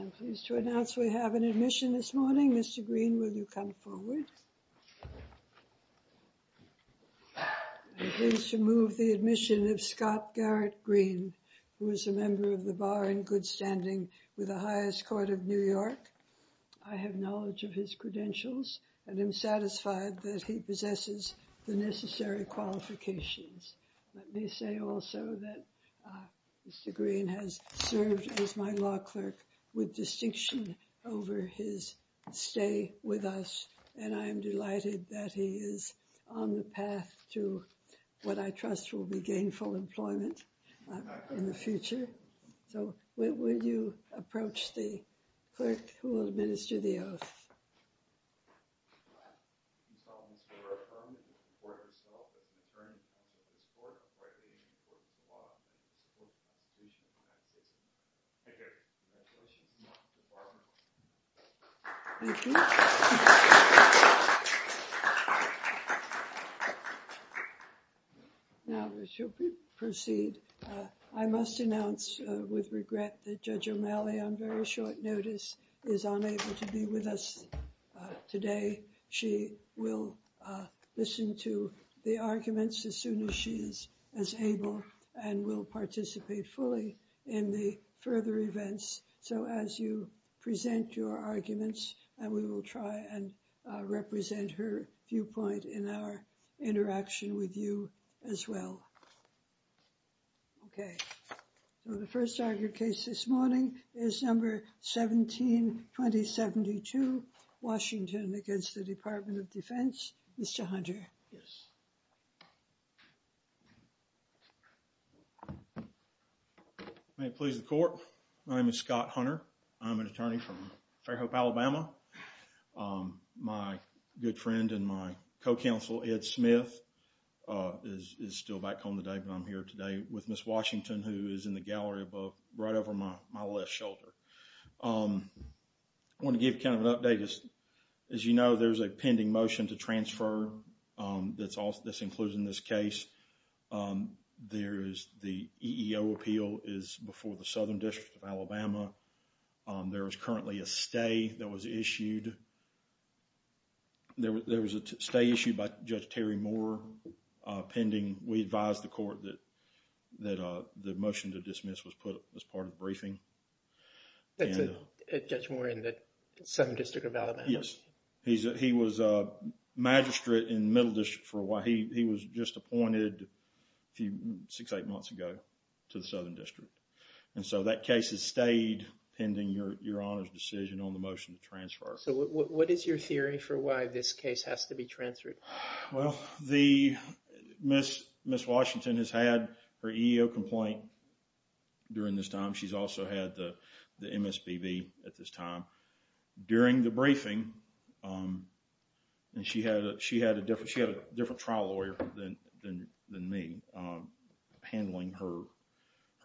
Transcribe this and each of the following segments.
I'm pleased to announce we have an admission this morning. Mr. Green, will you come forward? I'm pleased to move the admission of Scott Garrett Green, who is a member of the bar in good standing with the highest court of New York. I have knowledge of his credentials and am satisfied that he possesses the necessary qualifications. Let me say also that Mr. Green has served as my law clerk with distinction over his stay with us, and I am delighted that he is on the path to what I trust will be gainful employment in the future. So will you approach the clerk who will administer the oath? Thank you. Now we shall proceed. I must announce with regret that Judge O'Malley, on very short notice, is unable to be with us today. She will listen to the arguments as soon as she is as able and will participate fully in the further events. So as you present your arguments, we will try and represent her viewpoint in our interaction with you as well. Okay. So the first argued case this morning is number 17-2072, Washington against the Department of Defense. Mr. Hunter. Yes. May it please the court. My name is Scott Hunter. I'm an attorney from Fairhope, Alabama. My good friend and my co-counsel, Ed Smith, is still back home today, but I'm here today with Ms. Washington, who is in the gallery above right over my left shoulder. I want to give you kind of an update. As you know, there's a pending motion to transfer that's included in this case. There is the EEO appeal is before the Southern District of Alabama. There is currently a stay that was issued. There was a stay issued by Judge Terry Moore pending. We advised the court that the motion to dismiss was put up as part of the briefing. Is Judge Moore in the Southern District of Alabama? Yes. He was a magistrate in the Middle District for a while. He was just appointed six, eight months ago to the Southern District. That case has stayed pending your Honor's decision on the motion to transfer. What is your theory for why this case has to be transferred? Ms. Washington has had her EEO complaint during this time. She's also had the MSPB at this time. During the briefing, she had a different trial lawyer than me handling her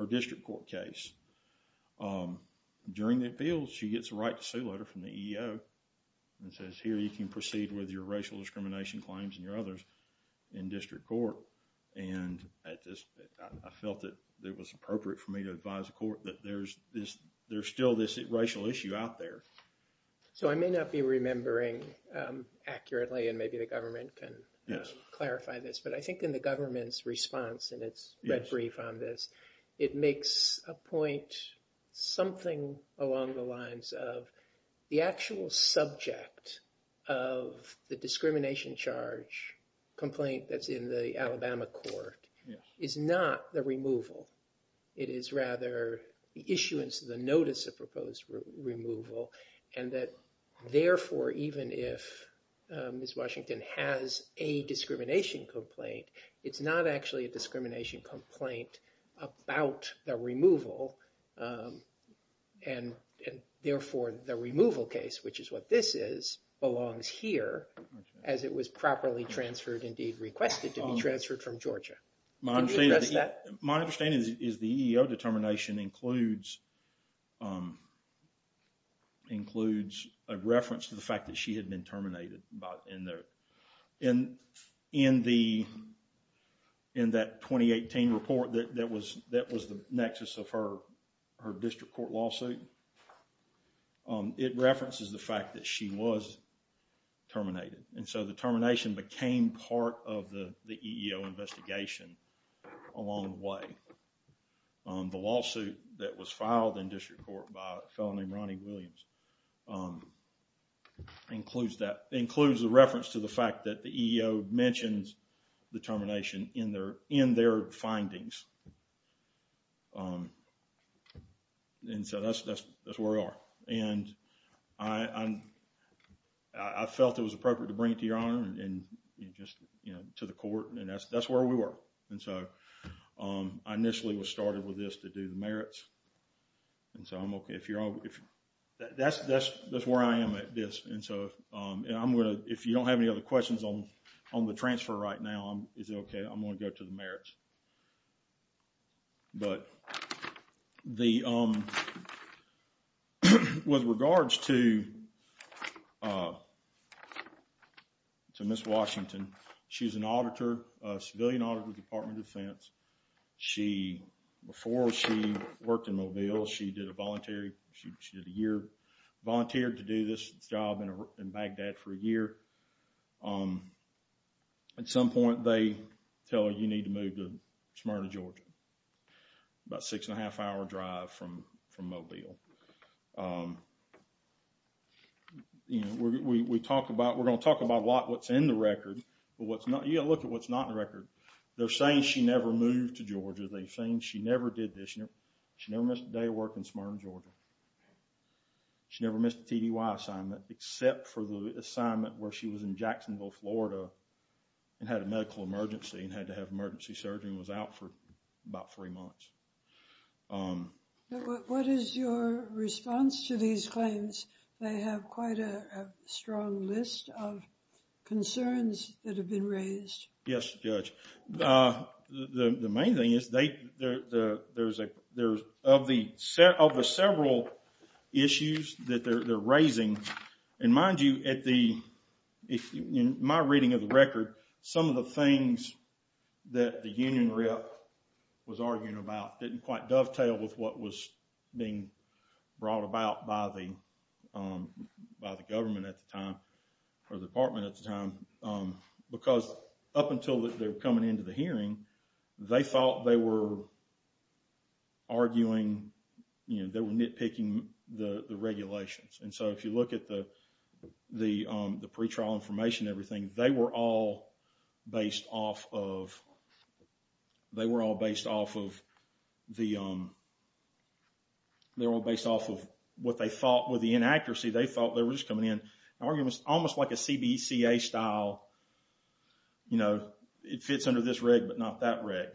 district court case. During the appeal, she gets a right to sue letter from the EEO and says, here you can proceed with your racial discrimination claims and your others in district court. I felt that it was appropriate for me to advise the court that there's still this racial issue out there. I may not be remembering accurately and maybe the government can clarify this, but I think in the government's response in its brief on this, it makes a point something along the lines of the actual subject of the discrimination charge complaint that's in the Alabama court is not the removal. It is rather the issuance of the notice of proposed removal. Therefore, even if Ms. Washington has a discrimination complaint, it's not actually a discrimination complaint about the removal. Therefore, the removal case, which is what this is, belongs here as it was properly transferred, indeed requested to be transferred from Georgia. My understanding is the EEO determination includes a reference to the fact that she had been terminated. In that 2018 report that was the nexus of her district court lawsuit, it references the fact that she was terminated. The termination became part of the EEO investigation along the way. The lawsuit that was filed in district court by a fellow named Ronnie Williams includes the reference to the fact that the EEO mentions the termination in their findings. That's where we are. I felt it was appropriate to bring it to your honor and to the court. That's where we were. I initially was started with this to do the merits. That's where I am at this. If you don't have any other questions on the transfer right now, I'm going to go to the merits. With regards to Ms. Washington, she's an auditor, a civilian auditor at the Department of Defense. Before she worked in Mobile, she did a year of volunteering to do this job in Baghdad for a year. At some point, they tell her, you need to move to Smyrna, Georgia. About a six and a half hour drive from Mobile. We're going to talk a lot about what's in the record. You've got to look at what's not in the record. They're saying she never moved to Georgia. They're saying she never did this. She never missed a day of work in Smyrna, Georgia. She never missed a TDY assignment except for the assignment where she was in Jacksonville, Florida and had a medical emergency and had to have emergency surgery and was out for about three months. What is your response to these claims? They have quite a strong list of concerns that have been raised. Yes, Judge. The main thing is, of the several issues that they're raising, and mind you, in my reading of the record, some of the things that the union rep was arguing about didn't quite dovetail with what was being brought about by the government at the time, or the department at the time, because up until they were coming into the hearing, they thought they were arguing, they were nitpicking the regulations. If you look at the pretrial information and everything, they were all based off of what they thought was the inaccuracy. They thought they were just coming in and arguing almost like a CBCA style, it fits under this reg, but not that reg.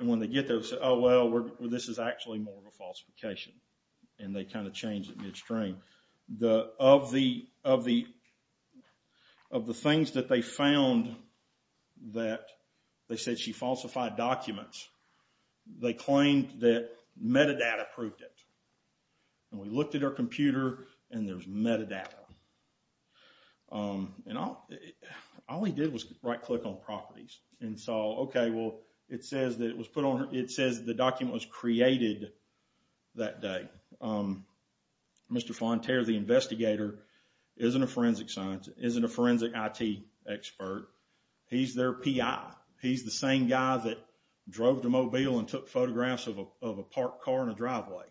When they get there, they say, oh well, this is actually more of a falsification. And they kind of change it midstream. Of the things that they found that they said she falsified documents, they claimed that metadata proved it. And we looked at her computer, and there's metadata. All he did was right click on properties. It says the document was created that day. Mr. Fonterra, the investigator, isn't a forensic scientist, isn't a forensic IT expert. He's their PI. He's the same guy that drove to Mobile and took photographs of a parked car in a driveway.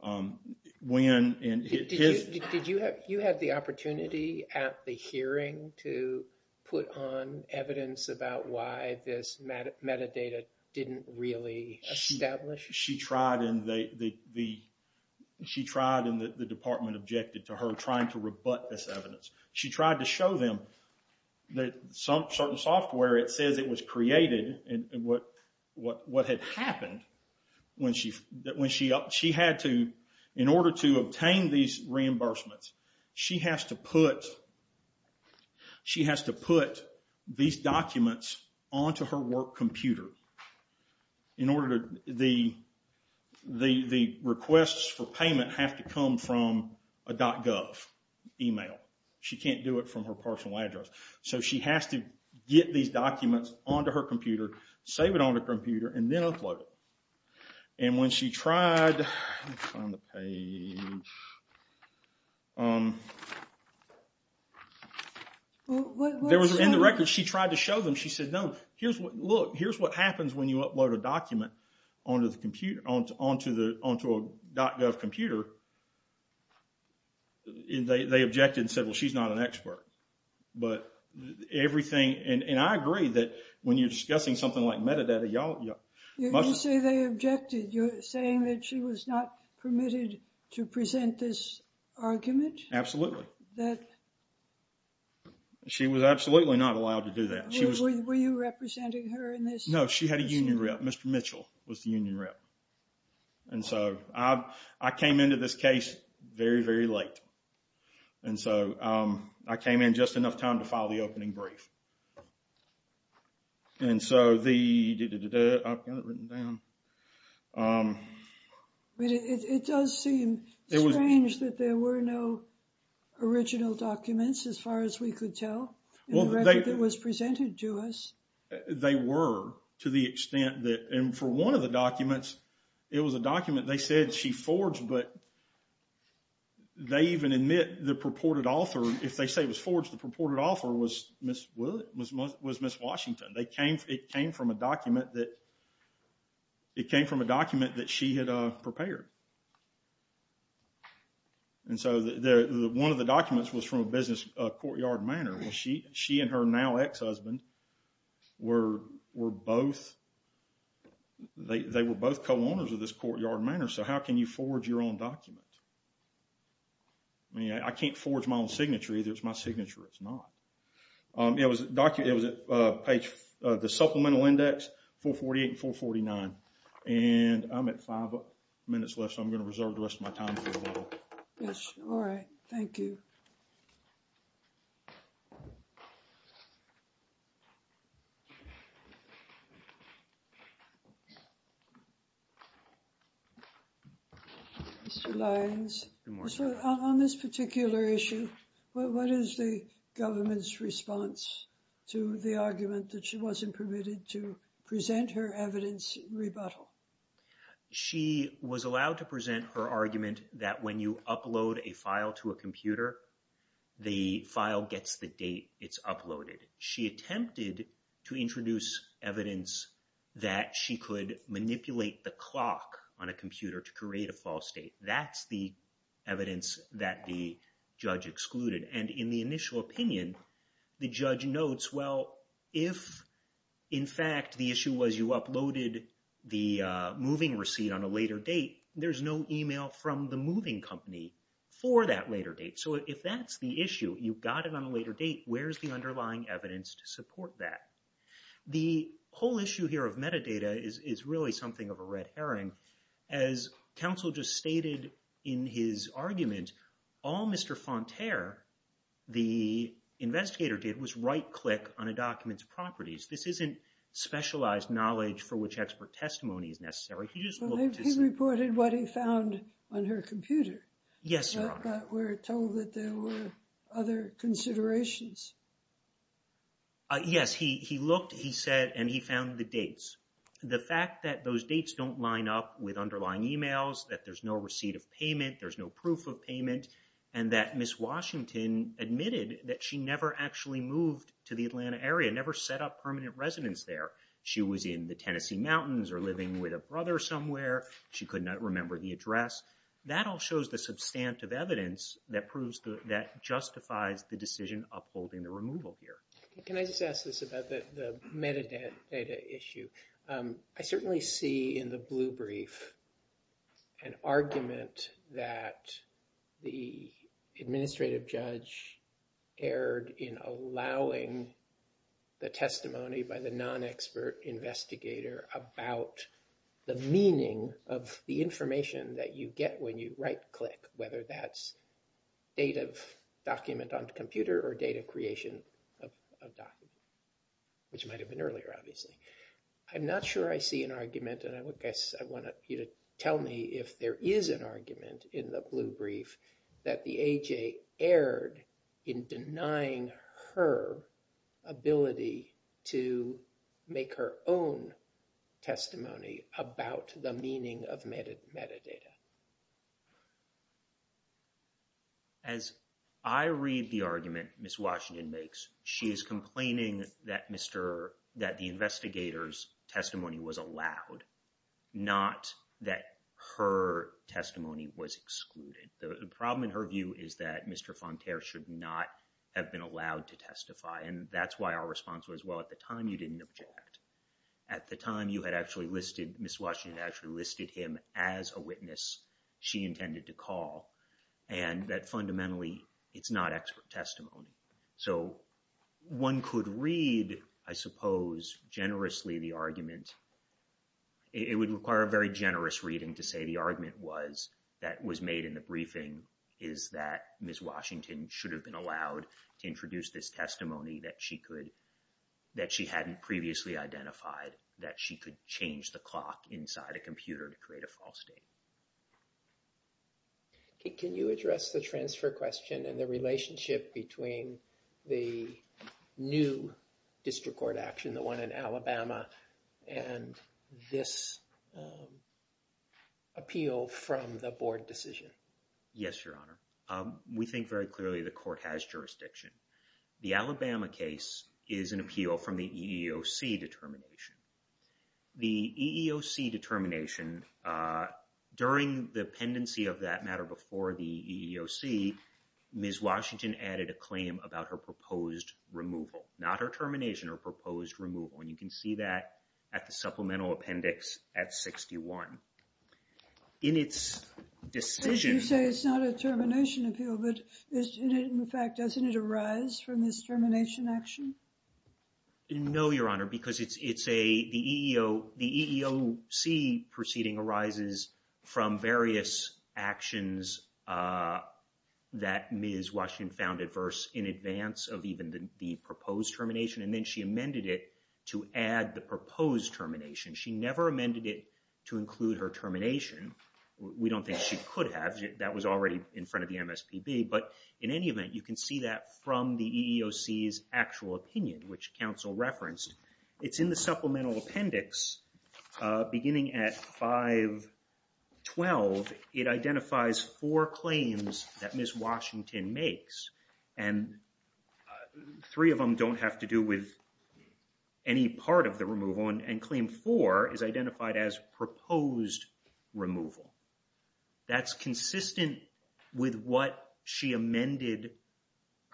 Did you have the opportunity at the hearing to put on evidence about why this metadata didn't really establish? She tried, and the department objected to her trying to rebut this evidence. She tried to show them that certain software, it says it was created, and what had happened when she had to, in order to obtain these reimbursements, she has to put these documents onto her work computer. The requests for payment have to come from a .gov email. She can't do it from her personal address. So she has to get these documents onto her computer, save it on her computer, and then upload it. And when she tried, let me find the page. In the records, she tried to show them, she said, no, look, here's what happens when you upload a document onto a .gov computer. They objected and said, well, she's not an expert. But everything, and I agree that when you're discussing something like metadata, y'all... You say they objected. You're saying that she was not permitted to present this argument? Absolutely. That... She was absolutely not allowed to do that. Were you representing her in this? No, she had a union rep. Mr. Mitchell was the union rep. And so I came into this case very, very late. And so I came in just enough time to file the opening brief. And so the... I've got it written down. It does seem strange that there were no original documents, as far as we could tell, in the record that was presented to us. They were, to the extent that... And for one of the documents, it was a document they said she forged, but they even admit the purported author, if they say it was forged, the purported author was Ms. Washington. It came from a document that she had prepared. And so one of the documents was from a business courtyard manor. She and her now ex-husband were both... They were both co-owners of this courtyard manor, so how can you forge your own document? I mean, I can't forge my own signature, either. It's my signature, it's not. It was a document... It was at page... The supplemental index, 448 and 449. And I'm at five minutes left, so I'm going to reserve the rest of my time. Yes, all right. Thank you. Mr. Lyons, on this particular issue, what is the government's response to the argument that she wasn't permitted to present her evidence rebuttal? She was allowed to present her argument that when you upload a file to a computer, the file gets the date it's uploaded. She attempted to introduce evidence that she could manipulate the clock on a computer to create a false date. That's the evidence that the judge excluded. And in the initial opinion, the judge notes, well, if, in fact, the issue was you uploaded the moving receipt on a later date, there's no email from the moving company for that later date. So if that's the issue, you got it on a later date, where's the underlying evidence to support that? The whole issue here of metadata is really something of a red herring. As counsel just stated in his argument, all Mr. Fonterra, the investigator, did was right-click on a document's properties. This isn't specialized knowledge for which expert testimony is necessary. He just looked to see. He reported what he found on her computer. Yes, Your Honor. But we're told that there were other considerations. Yes, he looked, he said, and he found the dates. The fact that those dates don't line up with underlying emails, that there's no receipt of payment, there's no proof of payment, and that Ms. Washington admitted that she never actually moved to the Atlanta area, never set up permanent residence there. She was in the Tennessee mountains or living with a brother somewhere. She could not remember the address. That all shows the substantive evidence that proves, that justifies the decision upholding the removal here. Can I just ask this about the metadata issue? I certainly see in the blue brief an argument that the administrative judge erred in allowing the testimony by the non-expert investigator about the meaning of the information that you get when you right-click, whether that's date of document on the computer or date of creation of document, which might have been earlier, obviously. I'm not sure I see an argument, and I guess I want you to tell me if there is an argument in the blue brief that the AJ erred in denying her ability to make her own testimony about the meaning of metadata. As I read the argument Ms. Washington makes, she is complaining that the investigator's testimony was allowed, not that her testimony was excluded. The problem in her view is that Mr. Fonterra should not have been allowed to testify, and that's why our response was, well, at the time, you didn't object. At the time, you had actually listed, Ms. Washington actually listed him as a witness she intended to call, and that fundamentally it's not expert testimony. So one could read, I suppose, generously the argument. It would require a very generous reading to say the argument that was made in the briefing is that Ms. Washington should have been allowed to introduce this testimony that she hadn't previously identified, that she could change the clock inside a computer to create a false state. Can you address the transfer question and the relationship between the new district court action, the one in Alabama, and this appeal from the board decision? Yes, Your Honor. We think very clearly the court has jurisdiction. The Alabama case is an appeal from the EEOC determination. The EEOC determination, during the pendency of that matter before the EEOC, Ms. Washington added a claim about her proposed removal, not her termination, her proposed removal, and you can see that at the supplemental appendix at 61. In its decision— You say it's not a termination appeal, but in fact, doesn't it arise from this termination action? No, Your Honor, because the EEOC proceeding arises from various actions that Ms. Washington found adverse in advance of even the proposed termination, and then she amended it to add the proposed termination. She never amended it to include her termination. We don't think she could have. That was already in front of the MSPB. But in any event, you can see that from the EEOC's actual opinion, which counsel referenced. It's in the supplemental appendix beginning at 512. It identifies four claims that Ms. Washington makes, and three of them don't have to do with any part of the removal, and claim four is identified as proposed removal. That's consistent with what she amended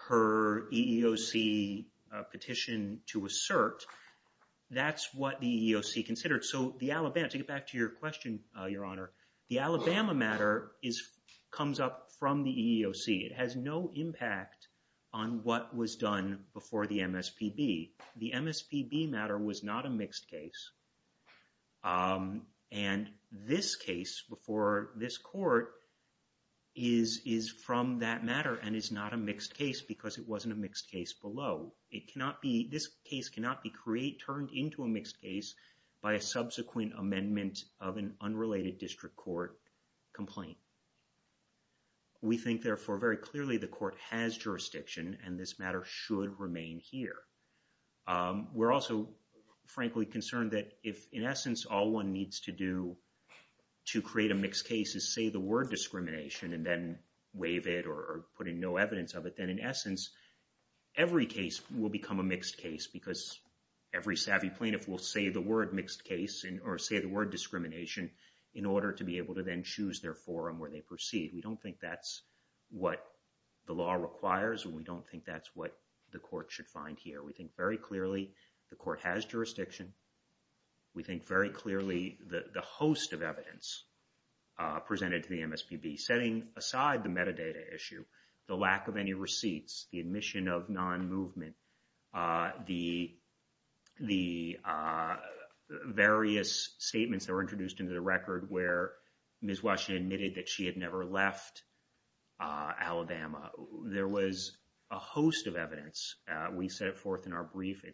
her EEOC petition to assert. That's what the EEOC considered. So the Alabama—to get back to your question, Your Honor— the Alabama matter comes up from the EEOC. It has no impact on what was done before the MSPB. The MSPB matter was not a mixed case, and this case before this court is from that matter and is not a mixed case because it wasn't a mixed case below. It cannot be—this case cannot be turned into a mixed case by a subsequent amendment of an unrelated district court complaint. We think, therefore, very clearly the court has jurisdiction, and this matter should remain here. We're also, frankly, concerned that if, in essence, all one needs to do to create a mixed case is say the word discrimination and then waive it or put in no evidence of it, then, in essence, every case will become a mixed case because every savvy plaintiff will say the word mixed case or say the word discrimination in order to be able to then choose their forum where they proceed. We don't think that's what the law requires, and we don't think that's what the court should find here. We think very clearly the court has jurisdiction. We think very clearly the host of evidence presented to the MSPB, setting aside the metadata issue, the lack of any receipts, the admission of non-movement, the various statements that were introduced into the record where Ms. Washington admitted that she had never left Alabama. There was a host of evidence. We set it forth in our brief.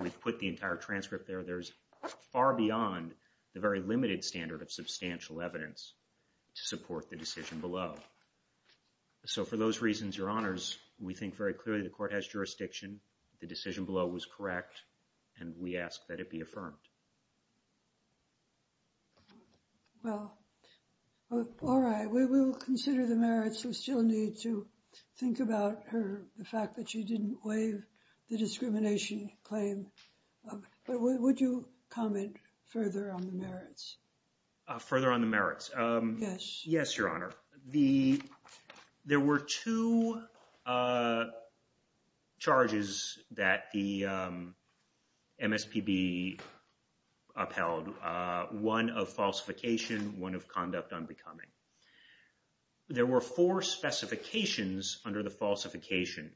We've put the entire transcript there. There's far beyond the very limited standard of substantial evidence to support the decision below. So for those reasons, Your Honors, we think very clearly the court has jurisdiction, the decision below was correct, and we ask that it be affirmed. Well, all right. We will consider the merits. We still need to think about her, the fact that she didn't waive the discrimination claim. But would you comment further on the merits? Further on the merits? Yes, Your Honor. There were two charges that the MSPB upheld, one of falsification, one of conduct unbecoming. There were four specifications under the falsification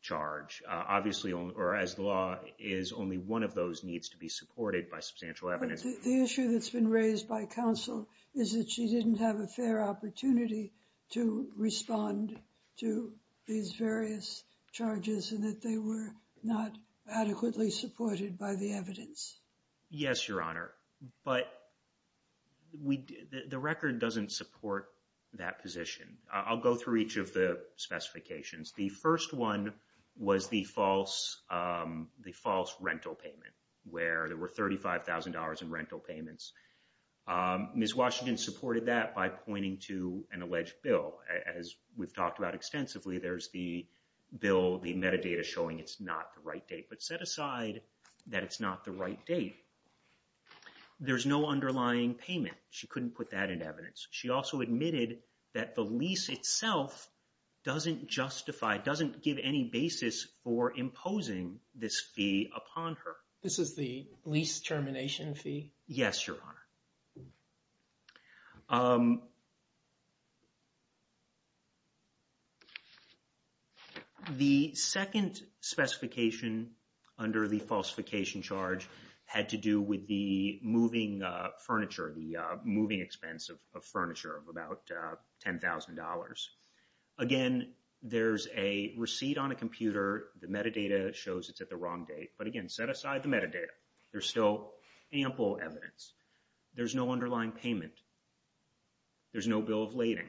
charge, obviously, or as the law, is only one of those needs to be supported by substantial evidence. The issue that's been raised by counsel is that she didn't have a fair opportunity to respond to these various charges and that they were not adequately supported by the evidence. Yes, Your Honor, but the record doesn't support that position. I'll go through each of the specifications. The first one was the false rental payment, where there were $35,000 in rental payments. Ms. Washington supported that by pointing to an alleged bill. As we've talked about extensively, there's the bill, the metadata showing it's not the right date. But set aside that it's not the right date, there's no underlying payment. She couldn't put that in evidence. She also admitted that the lease itself doesn't justify, doesn't give any basis for imposing this fee upon her. This is the lease termination fee? Yes, Your Honor. The second specification under the falsification charge had to do with the moving furniture, the moving expense of furniture of about $10,000. Again, there's a receipt on a computer. The metadata shows it's at the wrong date. But again, set aside the metadata. There's still ample evidence. There's no underlying payment. There's no bill of lading.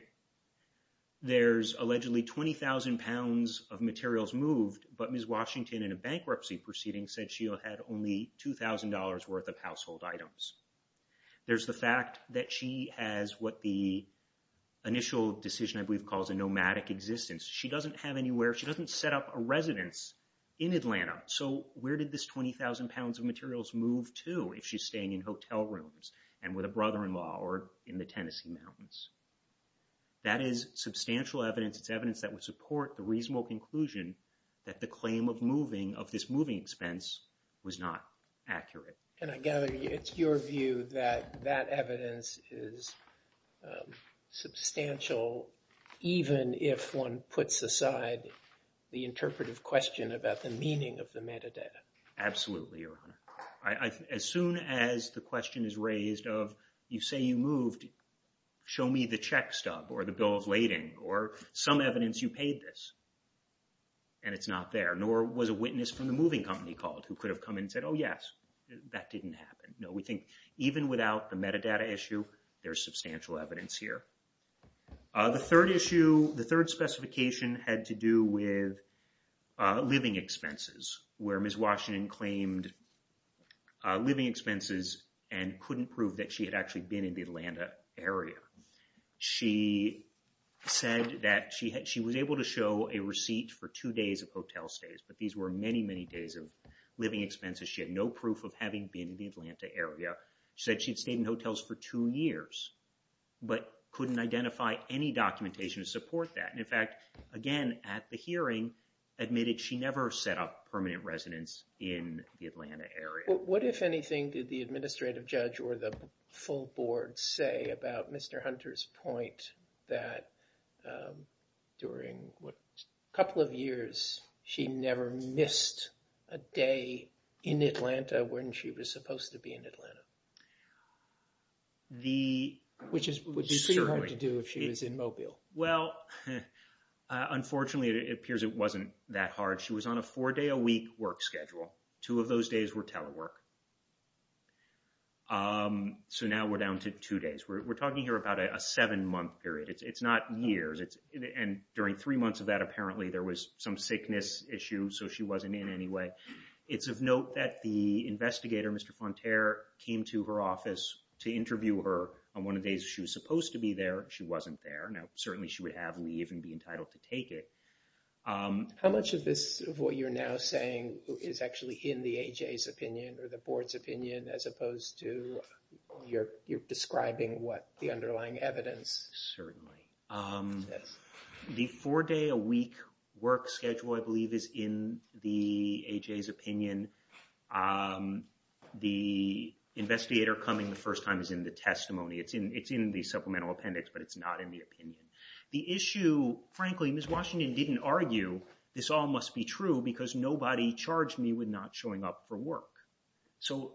There's allegedly 20,000 pounds of materials moved, but Ms. Washington in a bankruptcy proceeding said she had only $2,000 worth of household items. There's the fact that she has what the initial decision, I believe, calls a nomadic existence. She doesn't have anywhere, she doesn't set up a residence in Atlanta. So where did this 20,000 pounds of materials move to if she's staying in hotel rooms and with a brother-in-law or in the Tennessee mountains? That is substantial evidence. It's evidence that would support the reasonable conclusion that the claim of moving, of this moving expense, was not accurate. And I gather it's your view that that evidence is substantial even if one puts aside the interpretive question about the meaning of the metadata. Absolutely, Your Honor. As soon as the question is raised of, you say you moved, show me the check stub or the bill of lading or some evidence you paid this, and it's not there, nor was a witness from the moving company called who could have come in and said, oh yes, that didn't happen. No, we think even without the metadata issue, there's substantial evidence here. The third issue, the third specification had to do with living expenses where Ms. Washington claimed living expenses and couldn't prove that she had actually been in the Atlanta area. She said that she was able to show a receipt for two days of hotel stays, but these were many, many days of living expenses. She had no proof of having been in the Atlanta area. She said she'd stayed in hotels for two years, but couldn't identify any documentation to support that. In fact, again, at the hearing, admitted she never set up permanent residence in the Atlanta area. What, if anything, did the administrative judge or the full board say about Mr. Hunter's point that during a couple of years, when she was supposed to be in Atlanta? Which would be pretty hard to do if she was in Mobile. Well, unfortunately, it appears it wasn't that hard. She was on a four-day-a-week work schedule. Two of those days were telework. So now we're down to two days. We're talking here about a seven-month period. It's not years. And during three months of that, apparently there was some sickness issue, so she wasn't in anyway. It's of note that the investigator, Mr. Fonterre, came to her office to interview her on one of the days she was supposed to be there. She wasn't there. Now, certainly she would have leave and be entitled to take it. How much of this, of what you're now saying, is actually in the A.J.'s opinion or the board's opinion as opposed to your describing what the underlying evidence is? Certainly. The four-day-a-week work schedule, I believe, is in the A.J.'s opinion. The investigator coming the first time is in the testimony. It's in the supplemental appendix, but it's not in the opinion. The issue, frankly, Ms. Washington didn't argue, this all must be true because nobody charged me with not showing up for work. So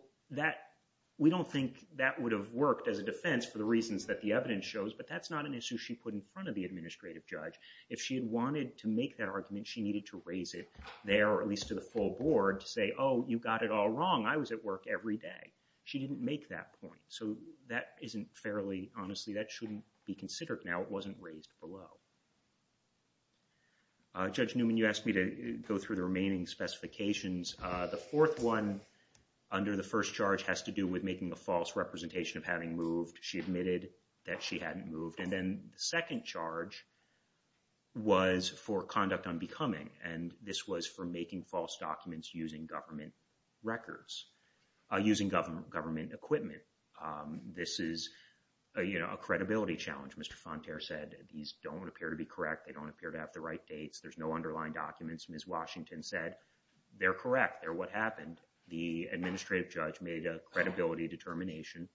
we don't think that would have worked as a defense for the reasons that the evidence shows, but that's not an issue she put in front of the administrative judge. If she had wanted to make that argument, she needed to raise it there or at least to the full board to say, oh, you got it all wrong. I was at work every day. She didn't make that point. So that isn't fairly, honestly, that shouldn't be considered now. It wasn't raised below. Judge Newman, you asked me to go through the remaining specifications. The fourth one under the first charge has to do with making a false representation of having moved. She admitted that she hadn't moved. And then the second charge was for conduct unbecoming, and this was for making false documents using government records, using government equipment. This is a credibility challenge. Mr. Fonterra said these don't appear to be correct. They don't appear to have the right dates. There's no underlying documents. Ms. Washington said they're correct. They're what happened. The administrative judge made a credibility determination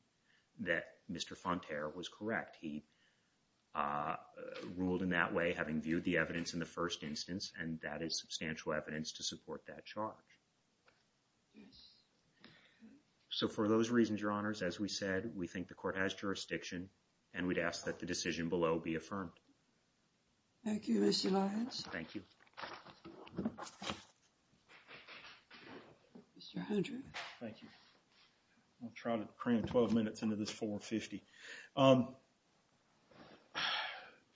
He ruled in that way, having viewed the evidence in the first instance, and that is substantial evidence to support that charge. So for those reasons, Your Honors, as we said, we think the court has jurisdiction, and we'd ask that the decision below be affirmed. Thank you, Mr. Lyons. Thank you. Mr. Hunter. Thank you. I'll try to cram 12 minutes into this 450.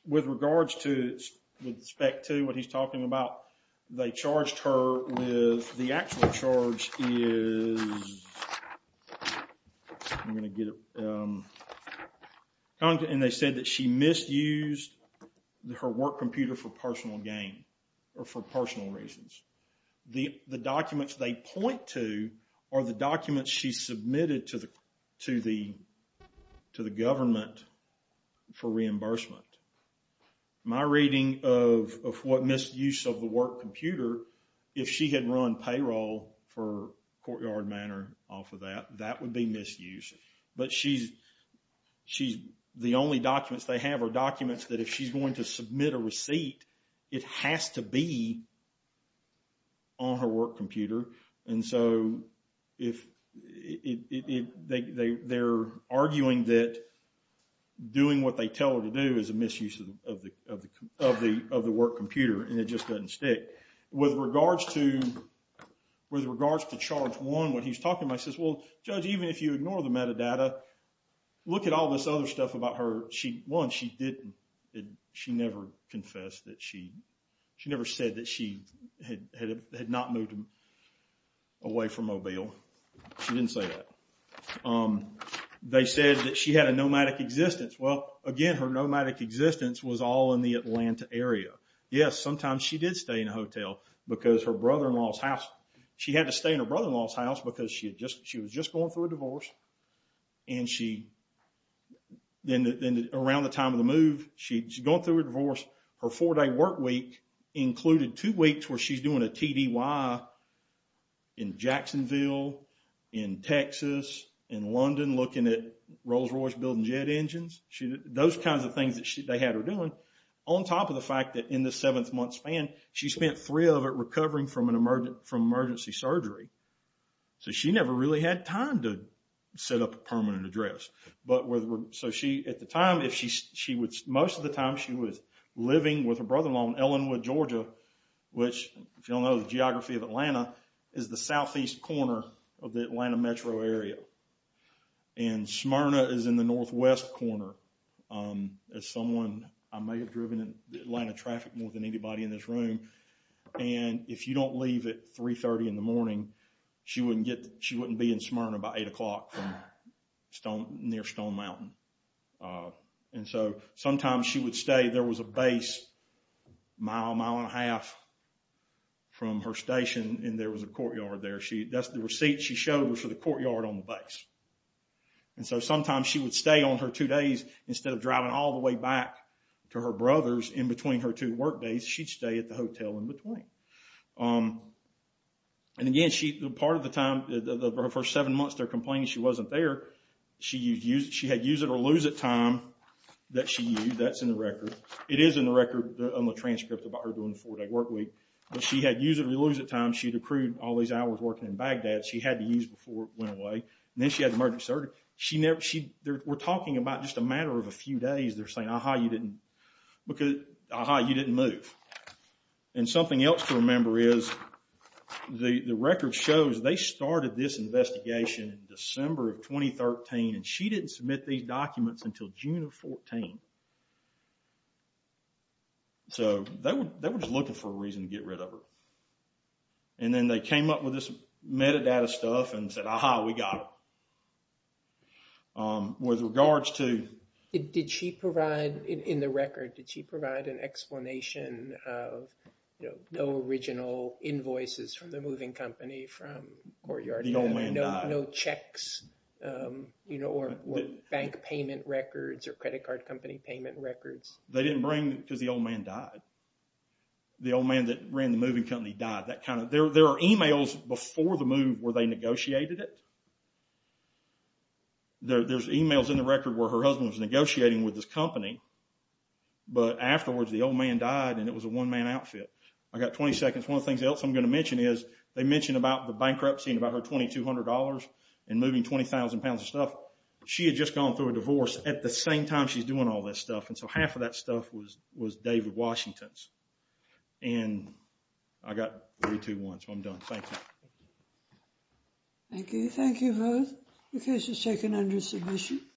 With regards to, with respect to what he's talking about, they charged her with, the actual charge is, I'm going to get it, and they said that she misused her work computer for personal gain, or for personal reasons. The documents they point to are the documents that she submitted to the government for reimbursement. My reading of what misuse of the work computer, if she had run payroll for Courtyard Manor off of that, that would be misuse. But she's, the only documents they have are documents that if she's going to submit a receipt, it has to be on her work computer. And so, they're arguing that doing what they tell her to do is a misuse of the work computer, and it just doesn't stick. With regards to, with regards to charge one, what he's talking about, he says, well, Judge, even if you ignore the metadata, look at all this other stuff about her. One, she didn't, she never confessed that she, she never said that she had not moved away from Mobile. She didn't say that. They said that she had a nomadic existence. Well, again, her nomadic existence was all in the Atlanta area. Yes, sometimes she did stay in a hotel because her brother-in-law's house, she had to stay in her brother-in-law's house because she was just going through a divorce, and she, around the time of the move, she's going through a divorce, her four-day work week included two weeks where she's doing a TDY in Jacksonville, in Texas, in London, looking at Rolls-Royce building jet engines. Those kinds of things that they had her doing, on top of the fact that in the seventh month span, she spent three of it recovering from emergency surgery. So, she never really had time to set up a permanent address. But with, so she, at the time, most of the time she was living with her brother-in-law in Ellenwood, Georgia, which, if you don't know the geography of Atlanta, is the southeast corner of the Atlanta metro area. And Smyrna is in the northwest corner. As someone, I may have driven in Atlanta traffic more than anybody in this room, and if you don't leave at 3.30 in the morning, she wouldn't be in Smyrna by 8 o'clock from near Stone Mountain. And so, sometimes she would stay, there was a base a mile, mile and a half from her station, and there was a courtyard there. That's the receipt she showed was for the courtyard on the base. And so, sometimes she would stay on her two days, instead of driving all the way back to her brother's in between her two work days, she'd stay at the hotel in between. And again, part of the time, for her first seven months, they're complaining she wasn't there. She had use-it-or-lose-it time that she used. That's in the record. It is in the record on the transcript about her doing the four-day work week. But she had use-it-or-lose-it time. She'd accrued all these hours working in Baghdad. She had to use before it went away. And then she had the emergency surgery. We're talking about just a matter of a few days. They're saying, aha, you didn't move. And something else to remember is, the record shows they started this investigation in December of 2013, and she didn't submit these documents until June of 14. So, they were just looking for a reason to get rid of her. And then they came up with this metadata stuff and said, aha, we got it. With regards to... Did she provide, in the record, did she provide an explanation of no original invoices from the moving company, from courtyard... The old man died. No checks, or bank payment records, or credit card company payment records? They didn't bring, because the old man died. The old man that ran the moving company died. That kind of... There are emails before the move where they negotiated it. There's emails in the record where her husband was negotiating with this company. But afterwards, the old man died, and it was a one-man outfit. I got 20 seconds. One of the things else I'm going to mention is, they mention about the bankruptcy and about her $2,200 and moving 20,000 pounds of stuff. She had just gone through a divorce at the same time she's doing all this stuff, and so half of that stuff was David Washington's. And I got three, two, one, so I'm done. Thank you. Thank you. Thank you both. The case is taken under submission.